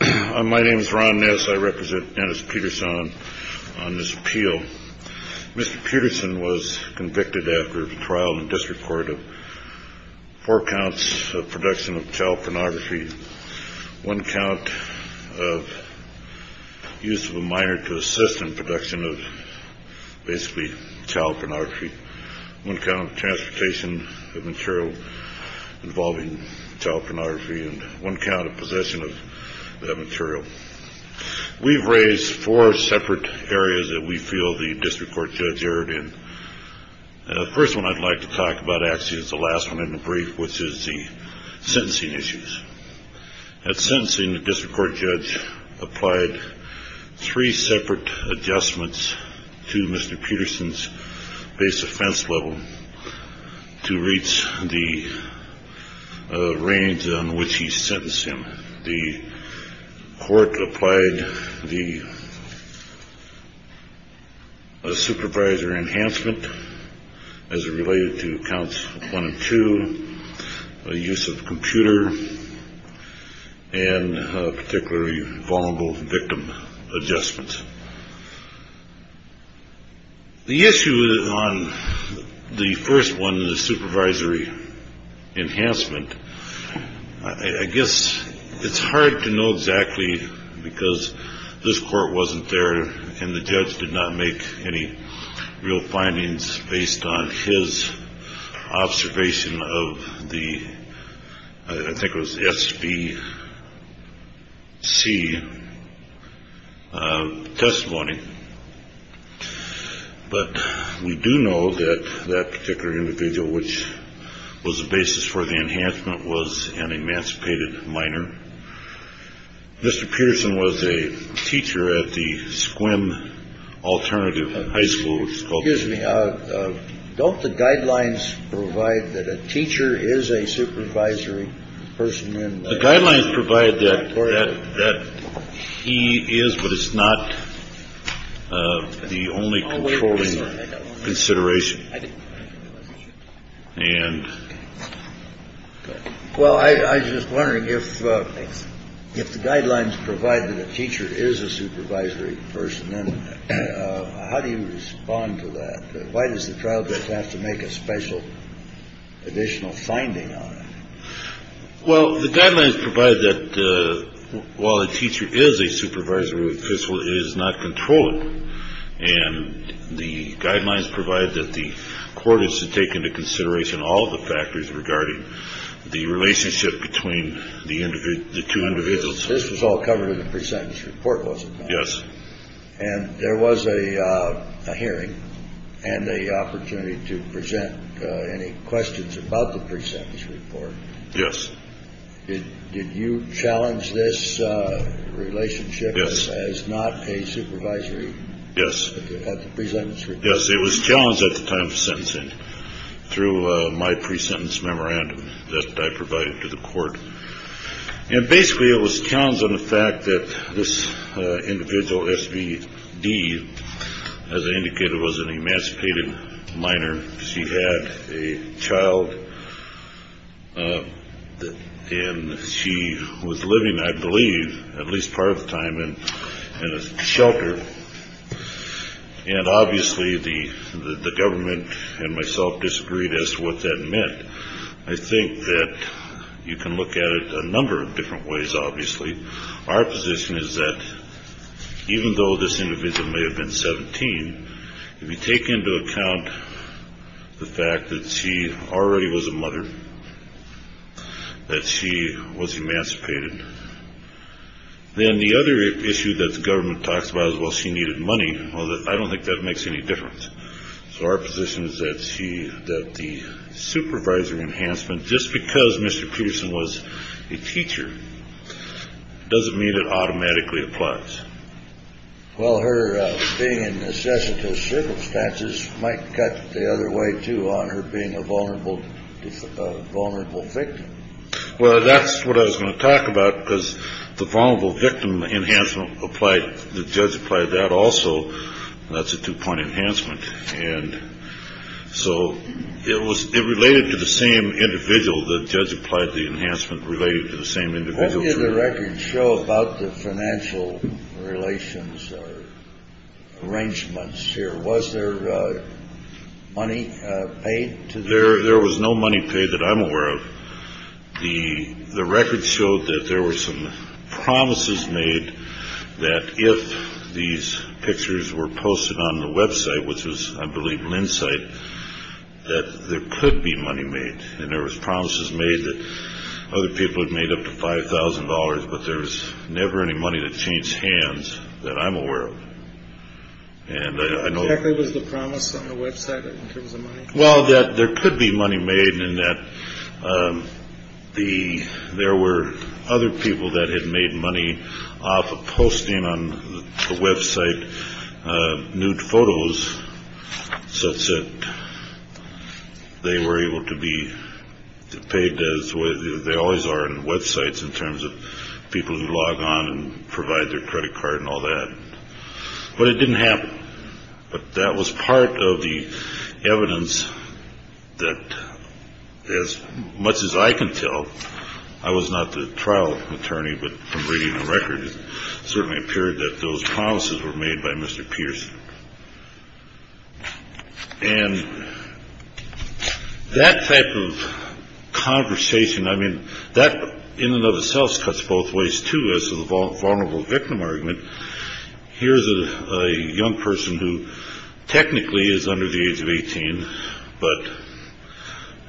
My name is Ron Ness. I represent Dennis Peterson on this appeal. Mr. Peterson was convicted after a trial in the District Court of four counts of production of child pornography, one count of use of a minor to assist in production of basically child pornography, one count of transportation of material involving child pornography, and one count of possession of that material. We've raised four separate areas that we feel the district court judge erred in. The first one I'd like to talk about actually is the last one in the brief, which is the sentencing issues. At sentencing, the district court judge applied three separate adjustments to Mr. Peterson's base offense level to reach the range on which he sentenced him. The court applied the supervisor enhancement as it related to counts one and two, the use of a computer, and particularly vulnerable victim adjustments. The issue on the first one, the supervisory enhancement, I guess it's hard to know exactly because this court wasn't there and the judge did not make any real findings based on his observation of the, I think it was SBC, testimony. But we do know that that particular individual, which was the basis for the enhancement, was an emancipated minor. Mr. Peterson was a teacher at the Squim Alternative High School. Which gives me don't the guidelines provide that a teacher is a supervisory person and the guidelines provide that or that he is. But it's not the only controlling consideration. And. Well, I was just wondering if if the guidelines provide that a teacher is a supervisory person, then how do you respond to that? Why does the trial judge have to make a special additional finding on it? Well, the guidelines provide that while a teacher is a supervisory official is not controlled. And the guidelines provide that the court is to take into consideration all the factors regarding the relationship between the two individuals. This was all covered in the present report. Yes. And there was a hearing and the opportunity to present any questions about the percentage report. Yes. Did you challenge this relationship? Yes. As not a supervisory. Yes. Yes. It was challenged at the time of sentencing through my pre-sentence memorandum that I provided to the court. And basically it was challenged on the fact that this individual SVD, as I indicated, was an emancipated minor. She had a child and she was living, I believe, at least part of the time in a shelter. And obviously the government and myself disagreed as to what that meant. I think that you can look at it a number of different ways. Obviously, our position is that even though this individual may have been 17, if you take into account the fact that she already was a mother, that she was emancipated. Then the other issue that the government talks about is, well, she needed money. Well, I don't think that makes any difference. So our position is that she that the supervisor enhancement, just because Mr. Peterson was a teacher, doesn't mean it automatically applies. Well, her being in necessitous circumstances might cut the other way, too, on her being a vulnerable, vulnerable victim. Well, that's what I was going to talk about, because the vulnerable victim enhancement applied. The judge applied that also. That's a two point enhancement. And so it was related to the same individual. So the judge applied the enhancement related to the same individual. What did the records show about the financial relations arrangements here? Was there money paid to there? There was no money paid that I'm aware of. The records showed that there were some promises made that if these pictures were posted on the Web site, which was, I believe, Lin site, that there could be money made. And there was promises made that other people had made up to five thousand dollars. But there's never any money to change hands that I'm aware of. And I know it was the promise on the Web site. Well, that there could be money made in that the there were other people that had made money off of posting on the Web site. New photos such that they were able to be paid as they always are in Web sites in terms of people who log on and provide their credit card and all that. But it didn't happen. But that was part of the evidence that as much as I can tell, I was not the trial attorney. But from reading the record, it certainly appeared that those promises were made by Mr. Pierce. And that type of conversation, I mean, that in and of itself cuts both ways to this vulnerable victim argument. Here's a young person who technically is under the age of 18, but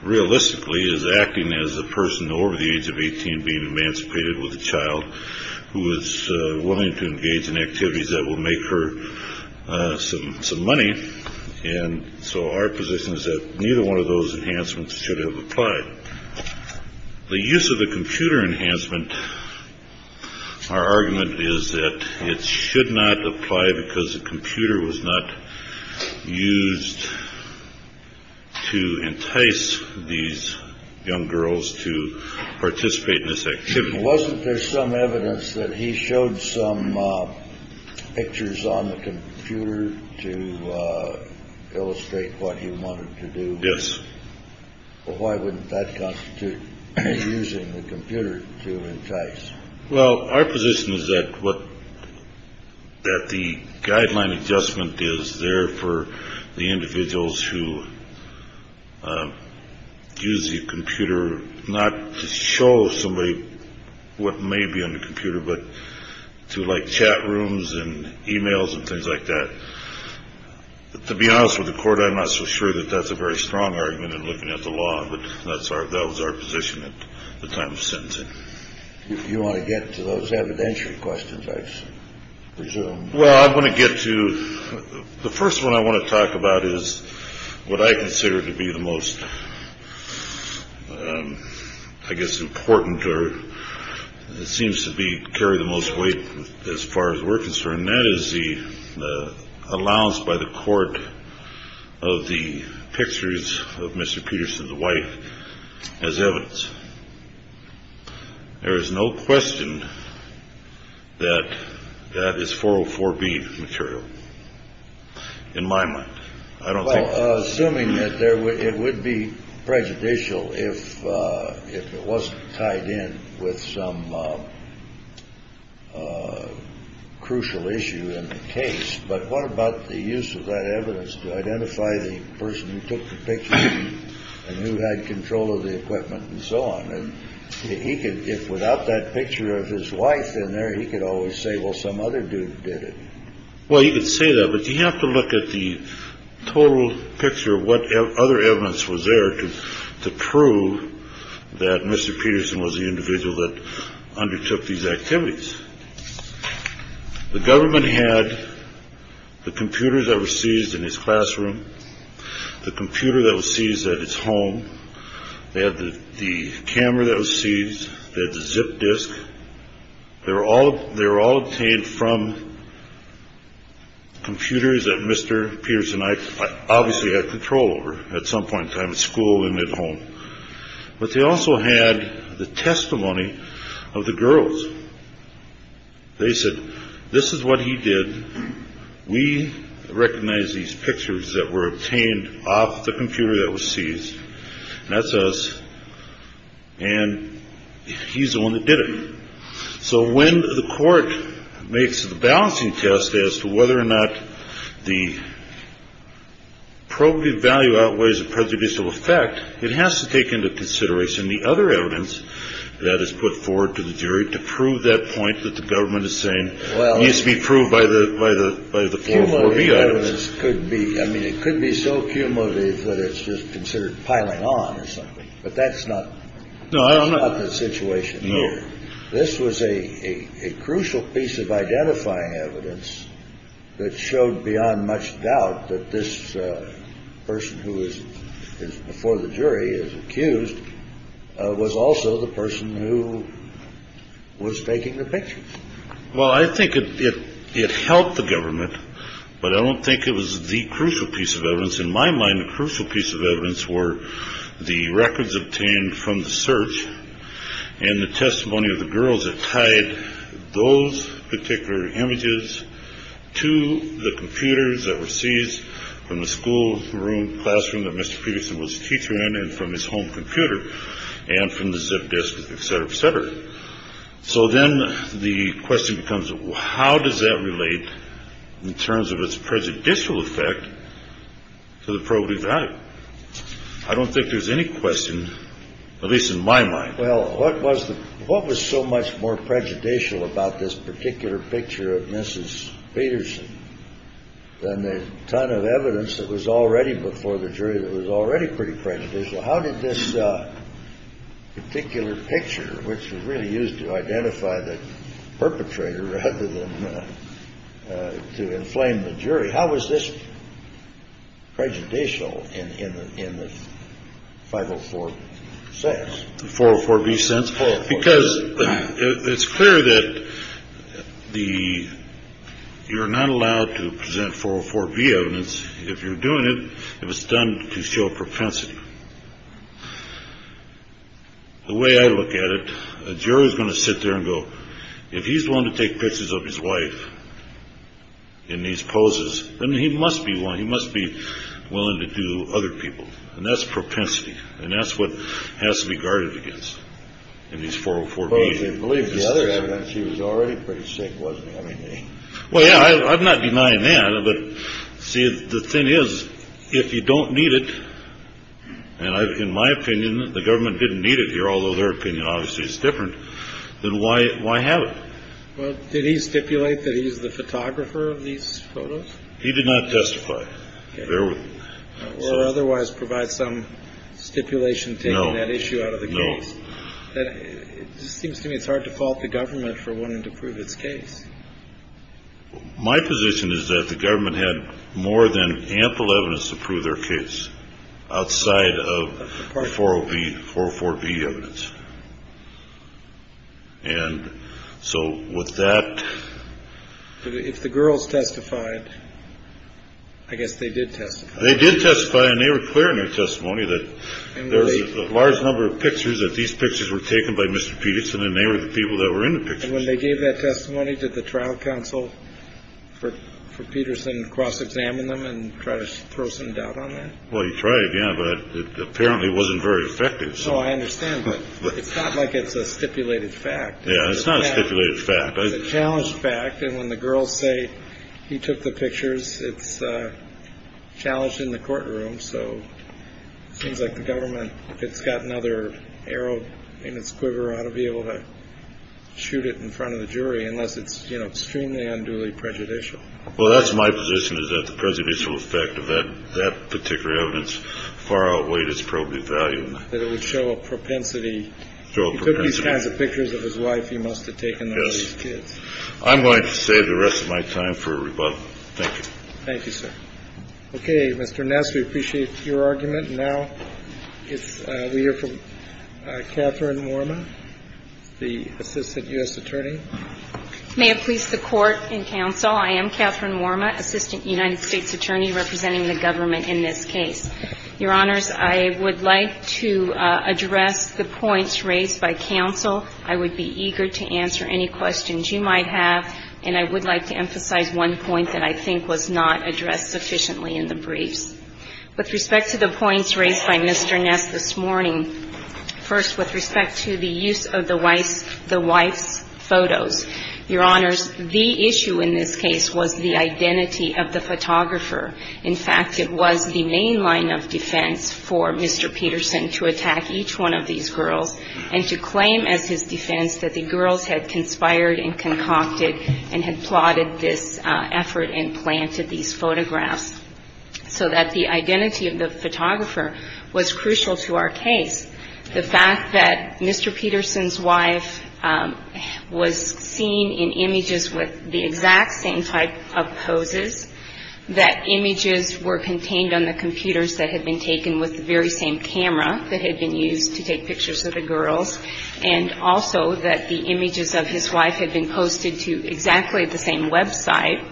realistically is acting as a person over the age of 18 being emancipated with a child who is willing to engage in activities that will make her some money. And so our position is that neither one of those enhancements should have applied. But the use of the computer enhancement, our argument is that it should not apply because the computer was not used to entice these young girls to participate in this. Wasn't there some evidence that he showed some pictures on the computer to illustrate what he wanted to do? Yes. Why wouldn't that constitute using the computer to entice? Well, our position is that what that the guideline adjustment is there for the individuals who use the computer, not to show somebody what may be on the computer, but to like chat rooms and e-mails and things like that. But to be honest with the court, I'm not so sure that that's a very strong argument in looking at the law. But that's our that was our position at the time of sentencing. If you want to get to those evidentiary questions, I presume. Well, I'm going to get to the first one I want to talk about is what I consider to be the most, I guess, important or it seems to be carry the most weight as far as we're concerned. And that is the allowance by the court of the pictures of Mr. Peterson's wife as evidence. There is no question that that is for for being material in my mind. Assuming that it would be prejudicial if it wasn't tied in with some crucial issue in the case. But what about the use of that evidence to identify the person who took the picture and who had control of the equipment and so on? And he could if without that picture of his wife in there, he could always say, well, some other dude did it. Well, you could say that, but you have to look at the total picture of what other evidence was there to prove that Mr. Peterson was the individual that undertook these activities. The government had the computers that were seized in his classroom, the computer that was seized at his home. They had the zip disk. They're all they're all obtained from computers that Mr. Peterson obviously had control over at some point in time at school and at home. But they also had the testimony of the girls. They said, this is what he did. We recognize these pictures that were obtained off the computer that was seized. That's us. And he's the one that did it. So when the court makes the balancing test as to whether or not the probative value outweighs the prejudicial effect, it has to take into consideration the other evidence that is put forward to the jury to prove that point that the government is saying well, needs to be proved by the by the by the four B items could be. I mean, it could be so cumulative that it's just considered piling on or something. But that's not. No, I don't know the situation. No. This was a crucial piece of identifying evidence that showed beyond much doubt that this person who is before the jury is accused was also the person who was taking the picture. Well, I think it helped the government, but I don't think it was the crucial piece of evidence. In my mind, the crucial piece of evidence were the records obtained from the search and the testimony of the girls that tied those particular images to the computers that were seized from the school classroom that Mr. Peterson was a teacher in and from his home computer and from the zip disk, et cetera, et cetera. So then the question becomes, how does that relate in terms of its prejudicial effect to the probability value? I don't think there's any question, at least in my mind. Well, what was the what was so much more prejudicial about this particular picture of Mrs. Peterson than the ton of evidence that was already before the jury that was already pretty prejudicial? How did this particular picture, which was really used to identify the perpetrator rather than to inflame the jury? How was this prejudicial in the 504 sense? The 404B sense, because it's clear that the you're not allowed to present 404B evidence if you're doing it, if it's done to show propensity. The way I look at it, a jury is going to sit there and go, if he's willing to take pictures of his wife in these poses, then he must be one he must be willing to do other people. And that's propensity. And that's what has to be guarded against in these 404B. Well, if you believe the other evidence, she was already pretty sick, wasn't she? Well, yeah, I'm not denying that. But see, the thing is, if you don't need it. And in my opinion, the government didn't need it here, although their opinion obviously is different. Then why? Why have it? Well, did he stipulate that he's the photographer of these photos? He did not testify. Or otherwise provide some stipulation taking that issue out of the case. It seems to me it's hard to fault the government for wanting to prove its case. My position is that the government had more than ample evidence to prove their case outside of 404B evidence. And so with that. If the girls testified, I guess they did test. They did testify and they were clear in their testimony that there's a large number of pictures that these pictures were taken by Mr. Peterson and they were the people that were in the picture when they gave that testimony to the trial counsel for for Peterson. Cross examine them and try to throw some doubt on that. Well, you try again. But apparently it wasn't very effective. So I understand. But it's not like it's a stipulated fact. Yeah, it's not a stipulated fact. It's a challenged fact. And when the girls say he took the pictures, it's challenged in the courtroom. So it seems like the government, if it's got another arrow in its quiver, ought to be able to shoot it in front of the jury unless it's, you know, extremely unduly prejudicial. Well, that's my position is that the presidential effect of that particular evidence far outweighed its probably value. So I think it's a reasonable argument. I think it's reasonable argument that it would show a propensity to these kinds of pictures of his wife. He must have taken those kids. I'm going to save the rest of my time for rebuttal. Thank you. Thank you, sir. Okay. Mr. Ness, we appreciate your argument. And now we hear from Catherine Worma, the Assistant U.S. Attorney. May it please the Court and counsel, I am Catherine Worma, Assistant United States Attorney representing the government in this case. Your Honors, I would like to address the points raised by counsel. I would be eager to answer any questions you might have. And I would like to emphasize one point that I think was not addressed sufficiently in the briefs. With respect to the points raised by Mr. Ness this morning, first, with respect to the use of the wife's photos, Your Honors, the issue in this case was the identity of the photographer. In fact, it was the main line of defense for Mr. Peterson to attack each one of these girls and to claim as his defense that the girls had conspired and concocted and had plotted this effort and planted these photographs so that the identity of the photographer was crucial to our case. The fact that Mr. Peterson's wife was seen in images with the exact same type of poses, that images were contained on the computers that had been taken with the very same camera that had been used to take pictures of the girls, and also that the images of his wife had been posted to exactly the same website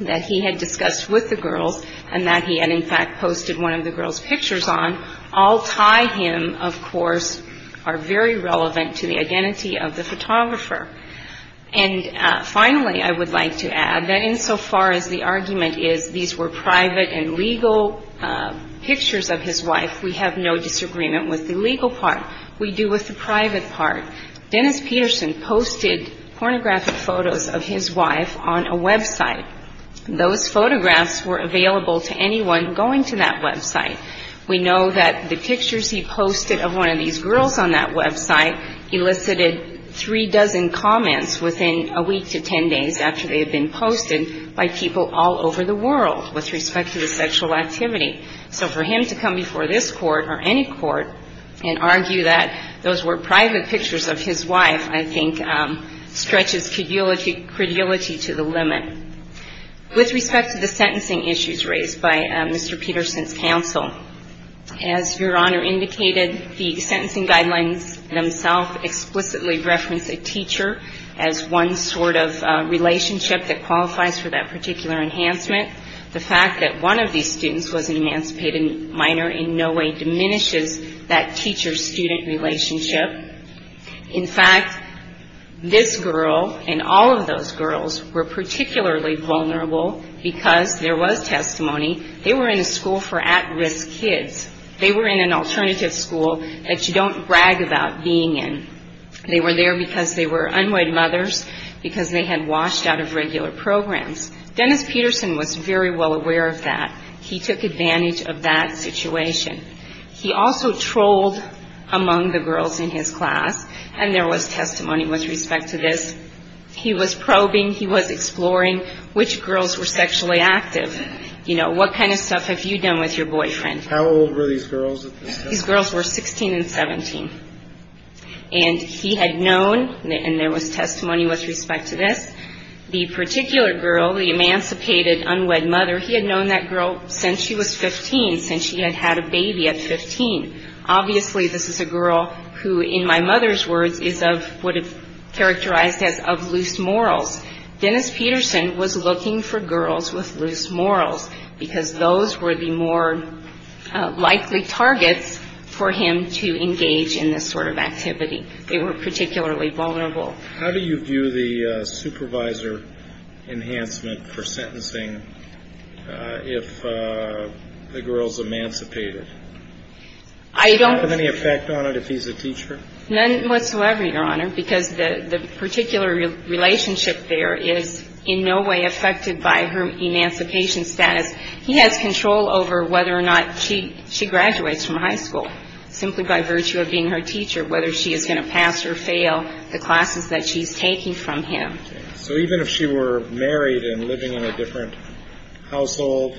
that he had discussed with the girls and that he had, in fact, posted one of the girls' pictures on, all tie him, of course, are very relevant to the identity of the photographer. And finally, I would like to add that insofar as the argument is these were private and legal pictures of his wife, we have no disagreement with the legal part. We do with the private part. Dennis Peterson posted pornographic photos of his wife on a website. Those photographs were available to anyone going to that website. We know that the pictures he posted of one of these girls on that website elicited three dozen comments within a week to ten days after they had been posted by people all over the world with respect to his sexual activity. So for him to come before this court or any court and argue that those were private pictures of his wife, I think, stretches credulity to the limit. With respect to the sentencing issues raised by Mr. Peterson's counsel, as Your Honor indicated, the sentencing guidelines themselves explicitly reference a teacher as one sort of relationship that qualifies for that particular enhancement. The fact that one of these students was an emancipated minor in no way diminishes that teacher-student relationship. In fact, this girl and all of those girls were particularly vulnerable because there was testimony. They were in a school for at-risk kids. They were in an alternative school that you don't brag about being in. They were there because they were unwed mothers, because they had washed out of regular programs. Dennis Peterson was very well aware of that. He took advantage of that situation. He also trolled among the girls in his class, and there was testimony with respect to this. He was probing. He was exploring which girls were sexually active. You know, what kind of stuff have you done with your boyfriend? How old were these girls? These girls were 16 and 17. And he had known, and there was testimony with respect to this, the particular girl, the emancipated unwed mother, he had known that girl since she was 15, since she had had a baby at 15. Obviously, this is a girl who, in my mother's words, is of what is characterized as of loose morals. Dennis Peterson was looking for girls with loose morals because those were the more likely targets for him to engage in this sort of activity. They were particularly vulnerable. How do you view the supervisor enhancement for sentencing if the girl is emancipated? I don't. Would that have any effect on it if he's a teacher? None whatsoever, Your Honor, because the particular relationship there is in no way affected by her emancipation status. He has control over whether or not she graduates from high school simply by virtue of being her teacher, whether she is going to pass or fail the classes that she's taking from him. So even if she were married and living in a different household,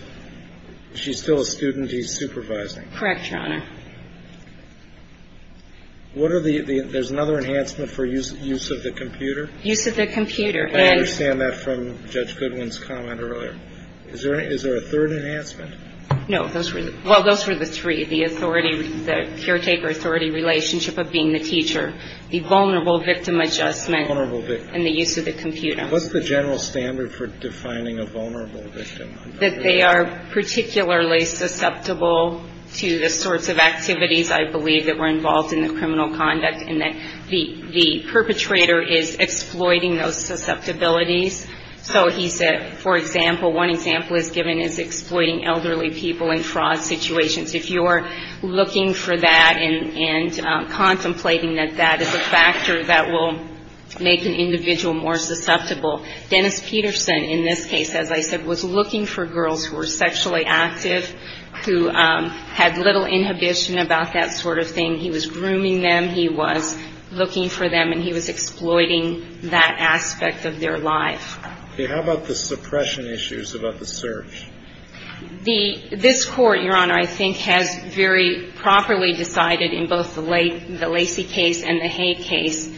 she's still a student he's supervising? Correct, Your Honor. There's another enhancement for use of the computer? Use of the computer. I understand that from Judge Goodwin's comment earlier. Is there a third enhancement? No. Well, those were the three, the authority, the caretaker-authority relationship of being the teacher, the vulnerable victim adjustment and the use of the computer. What's the general standard for defining a vulnerable victim? That they are particularly susceptible to the sorts of activities, I believe, that were involved in the criminal conduct and that the perpetrator is exploiting those susceptibilities. So he said, for example, one example he's given is exploiting elderly people in fraud situations. If you're looking for that and contemplating that that is a factor that will make an individual more susceptible, Dennis Peterson, in this case, as I said, was looking for girls who were sexually active, who had little inhibition about that sort of thing. He was grooming them. He was looking for them. And he was exploiting that aspect of their life. Okay. How about the suppression issues about the search? This Court, Your Honor, I think has very properly decided in both the Lacey case and the Hay case,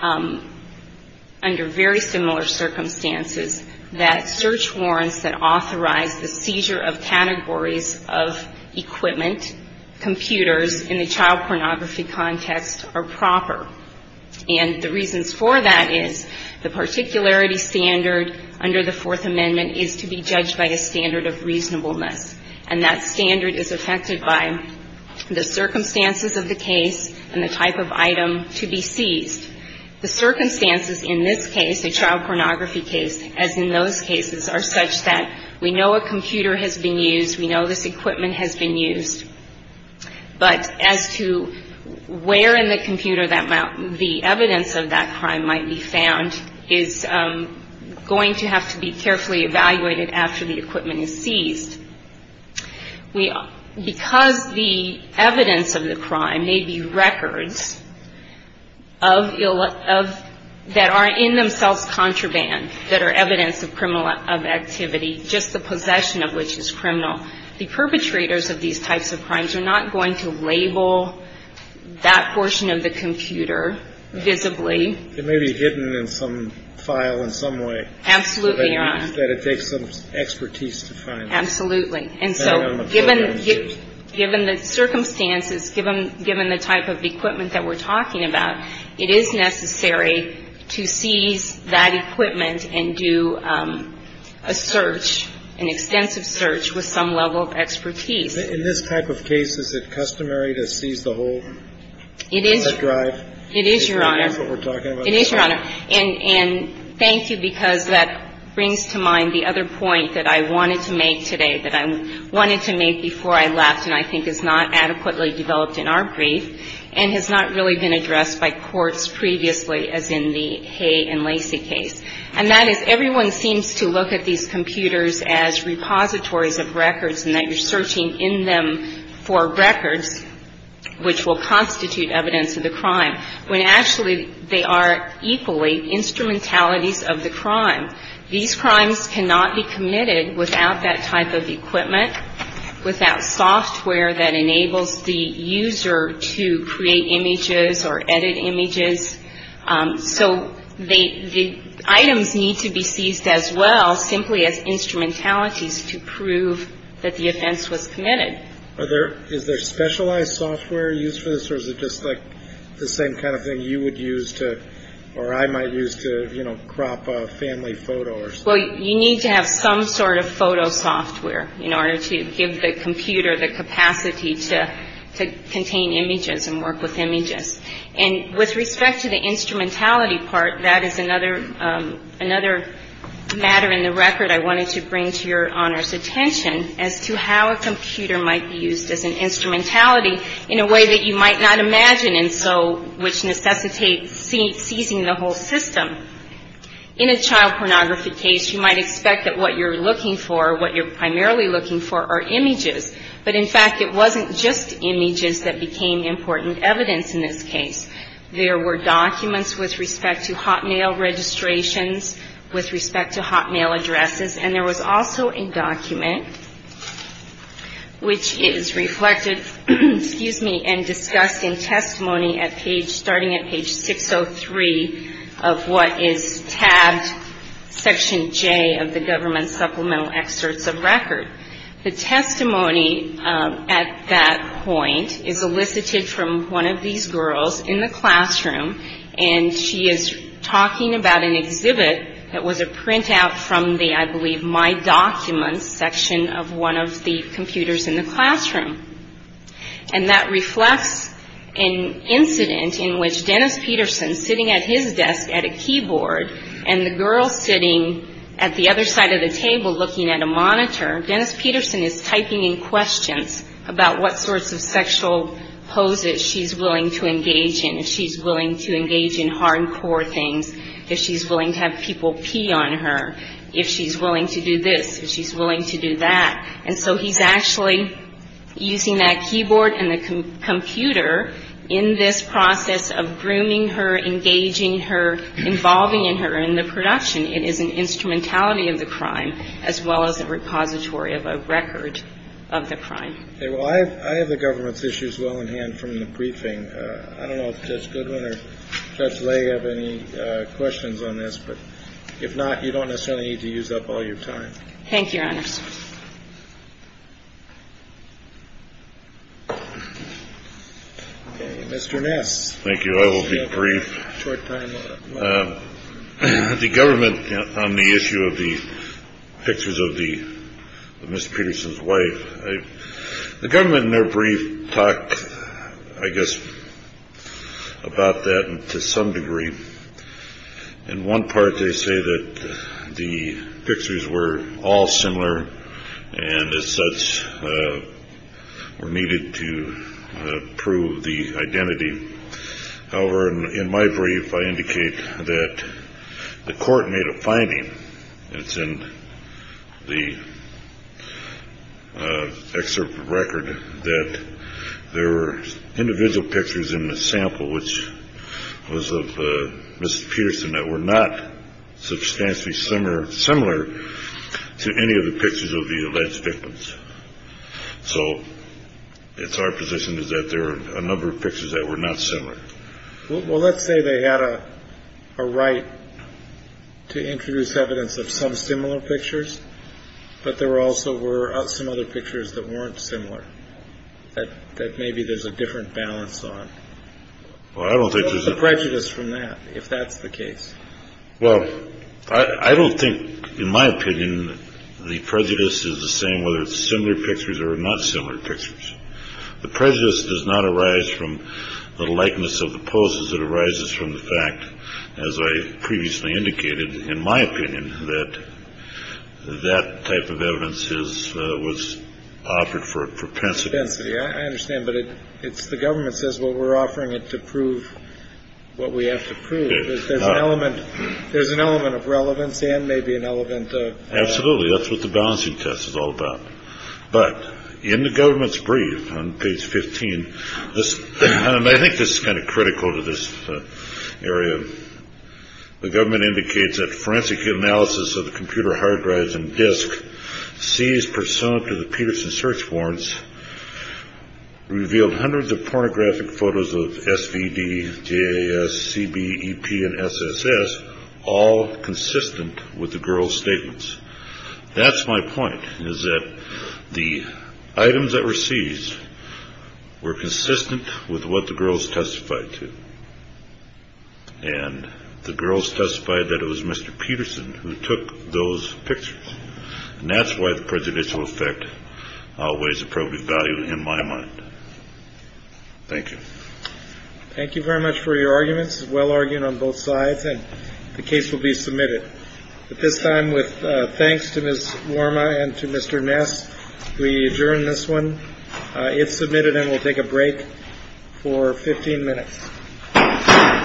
under very similar circumstances, that search warrants that authorize the seizure of categories of equipment, computers, in the child pornography context are proper. And the reasons for that is the particularity standard under the Fourth Amendment is to be judged by a standard of reasonableness. And that standard is affected by the circumstances of the case and the type of item to be seized. The circumstances in this case, the child pornography case, as in those cases, are such that we know a computer has been used. We know this equipment has been used. But as to where in the computer the evidence of that crime might be found is going to have to be carefully evaluated after the equipment is seized. Because the evidence of the crime may be records that are in themselves contraband, that are evidence of criminal activity, just the possession of which is criminal. The perpetrators of these types of crimes are not going to label that portion of the computer visibly. It may be hidden in some file in some way. Absolutely, Your Honor. That it takes some expertise to find it. Absolutely. And so given the circumstances, given the type of equipment that we're talking about, it is necessary to seize that equipment and do a search, an extensive search, with some level of expertise. In this type of case, is it customary to seize the whole drive? It is, Your Honor. It is what we're talking about. It is, Your Honor. And thank you, because that brings to mind the other point that I wanted to make today, that I wanted to make before I left and I think is not adequately developed in our brief and has not really been addressed by courts previously as in the Hay and Lacy case. And that is, everyone seems to look at these computers as repositories of records and that you're searching in them for records which will constitute evidence of the crime, when actually they are equally instrumentalities of the crime. These crimes cannot be committed without that type of equipment, without software that enables the user to create images or edit images. So the items need to be seized as well, simply as instrumentalities to prove that the offense was committed. Is there specialized software used for this, or is it just like the same kind of thing you would use to, or I might use to crop a family photo or something? Well, you need to have some sort of photo software in order to give the computer the capacity to contain images and work with images. And with respect to the instrumentality part, that is another matter in the record I wanted to bring to Your Honor's attention, as to how a computer might be used as an instrumentality in a way that you might not imagine and so which necessitates seizing the whole system. In a child pornography case, you might expect that what you're looking for, what you're primarily looking for, are images. But in fact, it wasn't just images that became important evidence in this case. There were documents with respect to hotmail registrations, with respect to hotmail addresses, and there was also a document which is reflected, excuse me, and discussed in testimony starting at page 603 of what is tabbed, Section J of the Government Supplemental Excerpts of Record. The testimony at that point is elicited from one of these girls in the classroom, and she is talking about an exhibit that was a printout from the, I believe, My Documents section of one of the computers in the classroom. And that reflects an incident in which Dennis Peterson, sitting at his desk at a keyboard, and the girl sitting at the other side of the table looking at a monitor, Dennis Peterson is typing in questions about what sorts of sexual poses she's willing to engage in, if she's willing to engage in hardcore things, if she's willing to have people pee on her, if she's willing to do this, if she's willing to do that. And so he's actually using that keyboard and the computer in this process of grooming her, engaging her, involving her in the production. It is an instrumentality of the crime as well as a repository of a record of the crime. Okay. Well, I have the government's issues well in hand from the briefing. I don't know if Judge Goodwin or Judge Lay have any questions on this, but if not, you don't necessarily need to use up all your time. Thank you, Your Honors. Okay. Mr. Ness. Thank you. I will be brief. The government on the issue of the pictures of the Mr. Peterson's wife, the government in their brief talk, I guess, about that to some degree. In one part, they say that the pictures were all similar and as such were needed to prove the identity. However, in my brief, I indicate that the court made a finding. It's in the excerpt from the record that there were individual pictures in the sample, which was of Mr. Peterson that were not substantially similar to any of the pictures of the alleged victims. So it's our position is that there are a number of pictures that were not similar. Well, let's say they had a right to introduce evidence of some similar pictures, but there also were some other pictures that weren't similar, that maybe there's a different balance on. Well, I don't think there's a prejudice from that, if that's the case. Well, I don't think, in my opinion, the prejudice is the same whether it's similar pictures or not similar pictures. The prejudice does not arise from the likeness of the poses. It arises from the fact, as I previously indicated, in my opinion, that that type of evidence is what's offered for propensity. I understand. But it's the government says, well, we're offering it to prove what we have to prove. There's an element there's an element of relevance and maybe an element. Absolutely. That's what the balancing test is all about. But in the government's brief on page 15, I think this is kind of critical to this area. The government indicates that forensic analysis of the computer hard drives and disk sees to the Peterson search warrants revealed hundreds of pornographic photos of S.V.D. J.S.C.B.E.P. and S.S.S., all consistent with the girl's statements. That's my point, is that the items that were seized were consistent with what the girls testified to. And the girls testified that it was Mr. Peterson who took those pictures. And that's why the prejudicial effect always appropriate value in my mind. Thank you. Thank you very much for your arguments. Well, arguing on both sides and the case will be submitted at this time with thanks to Ms. Worma and to Mr. Ness. We adjourn this one. It's submitted and we'll take a break for 15 minutes.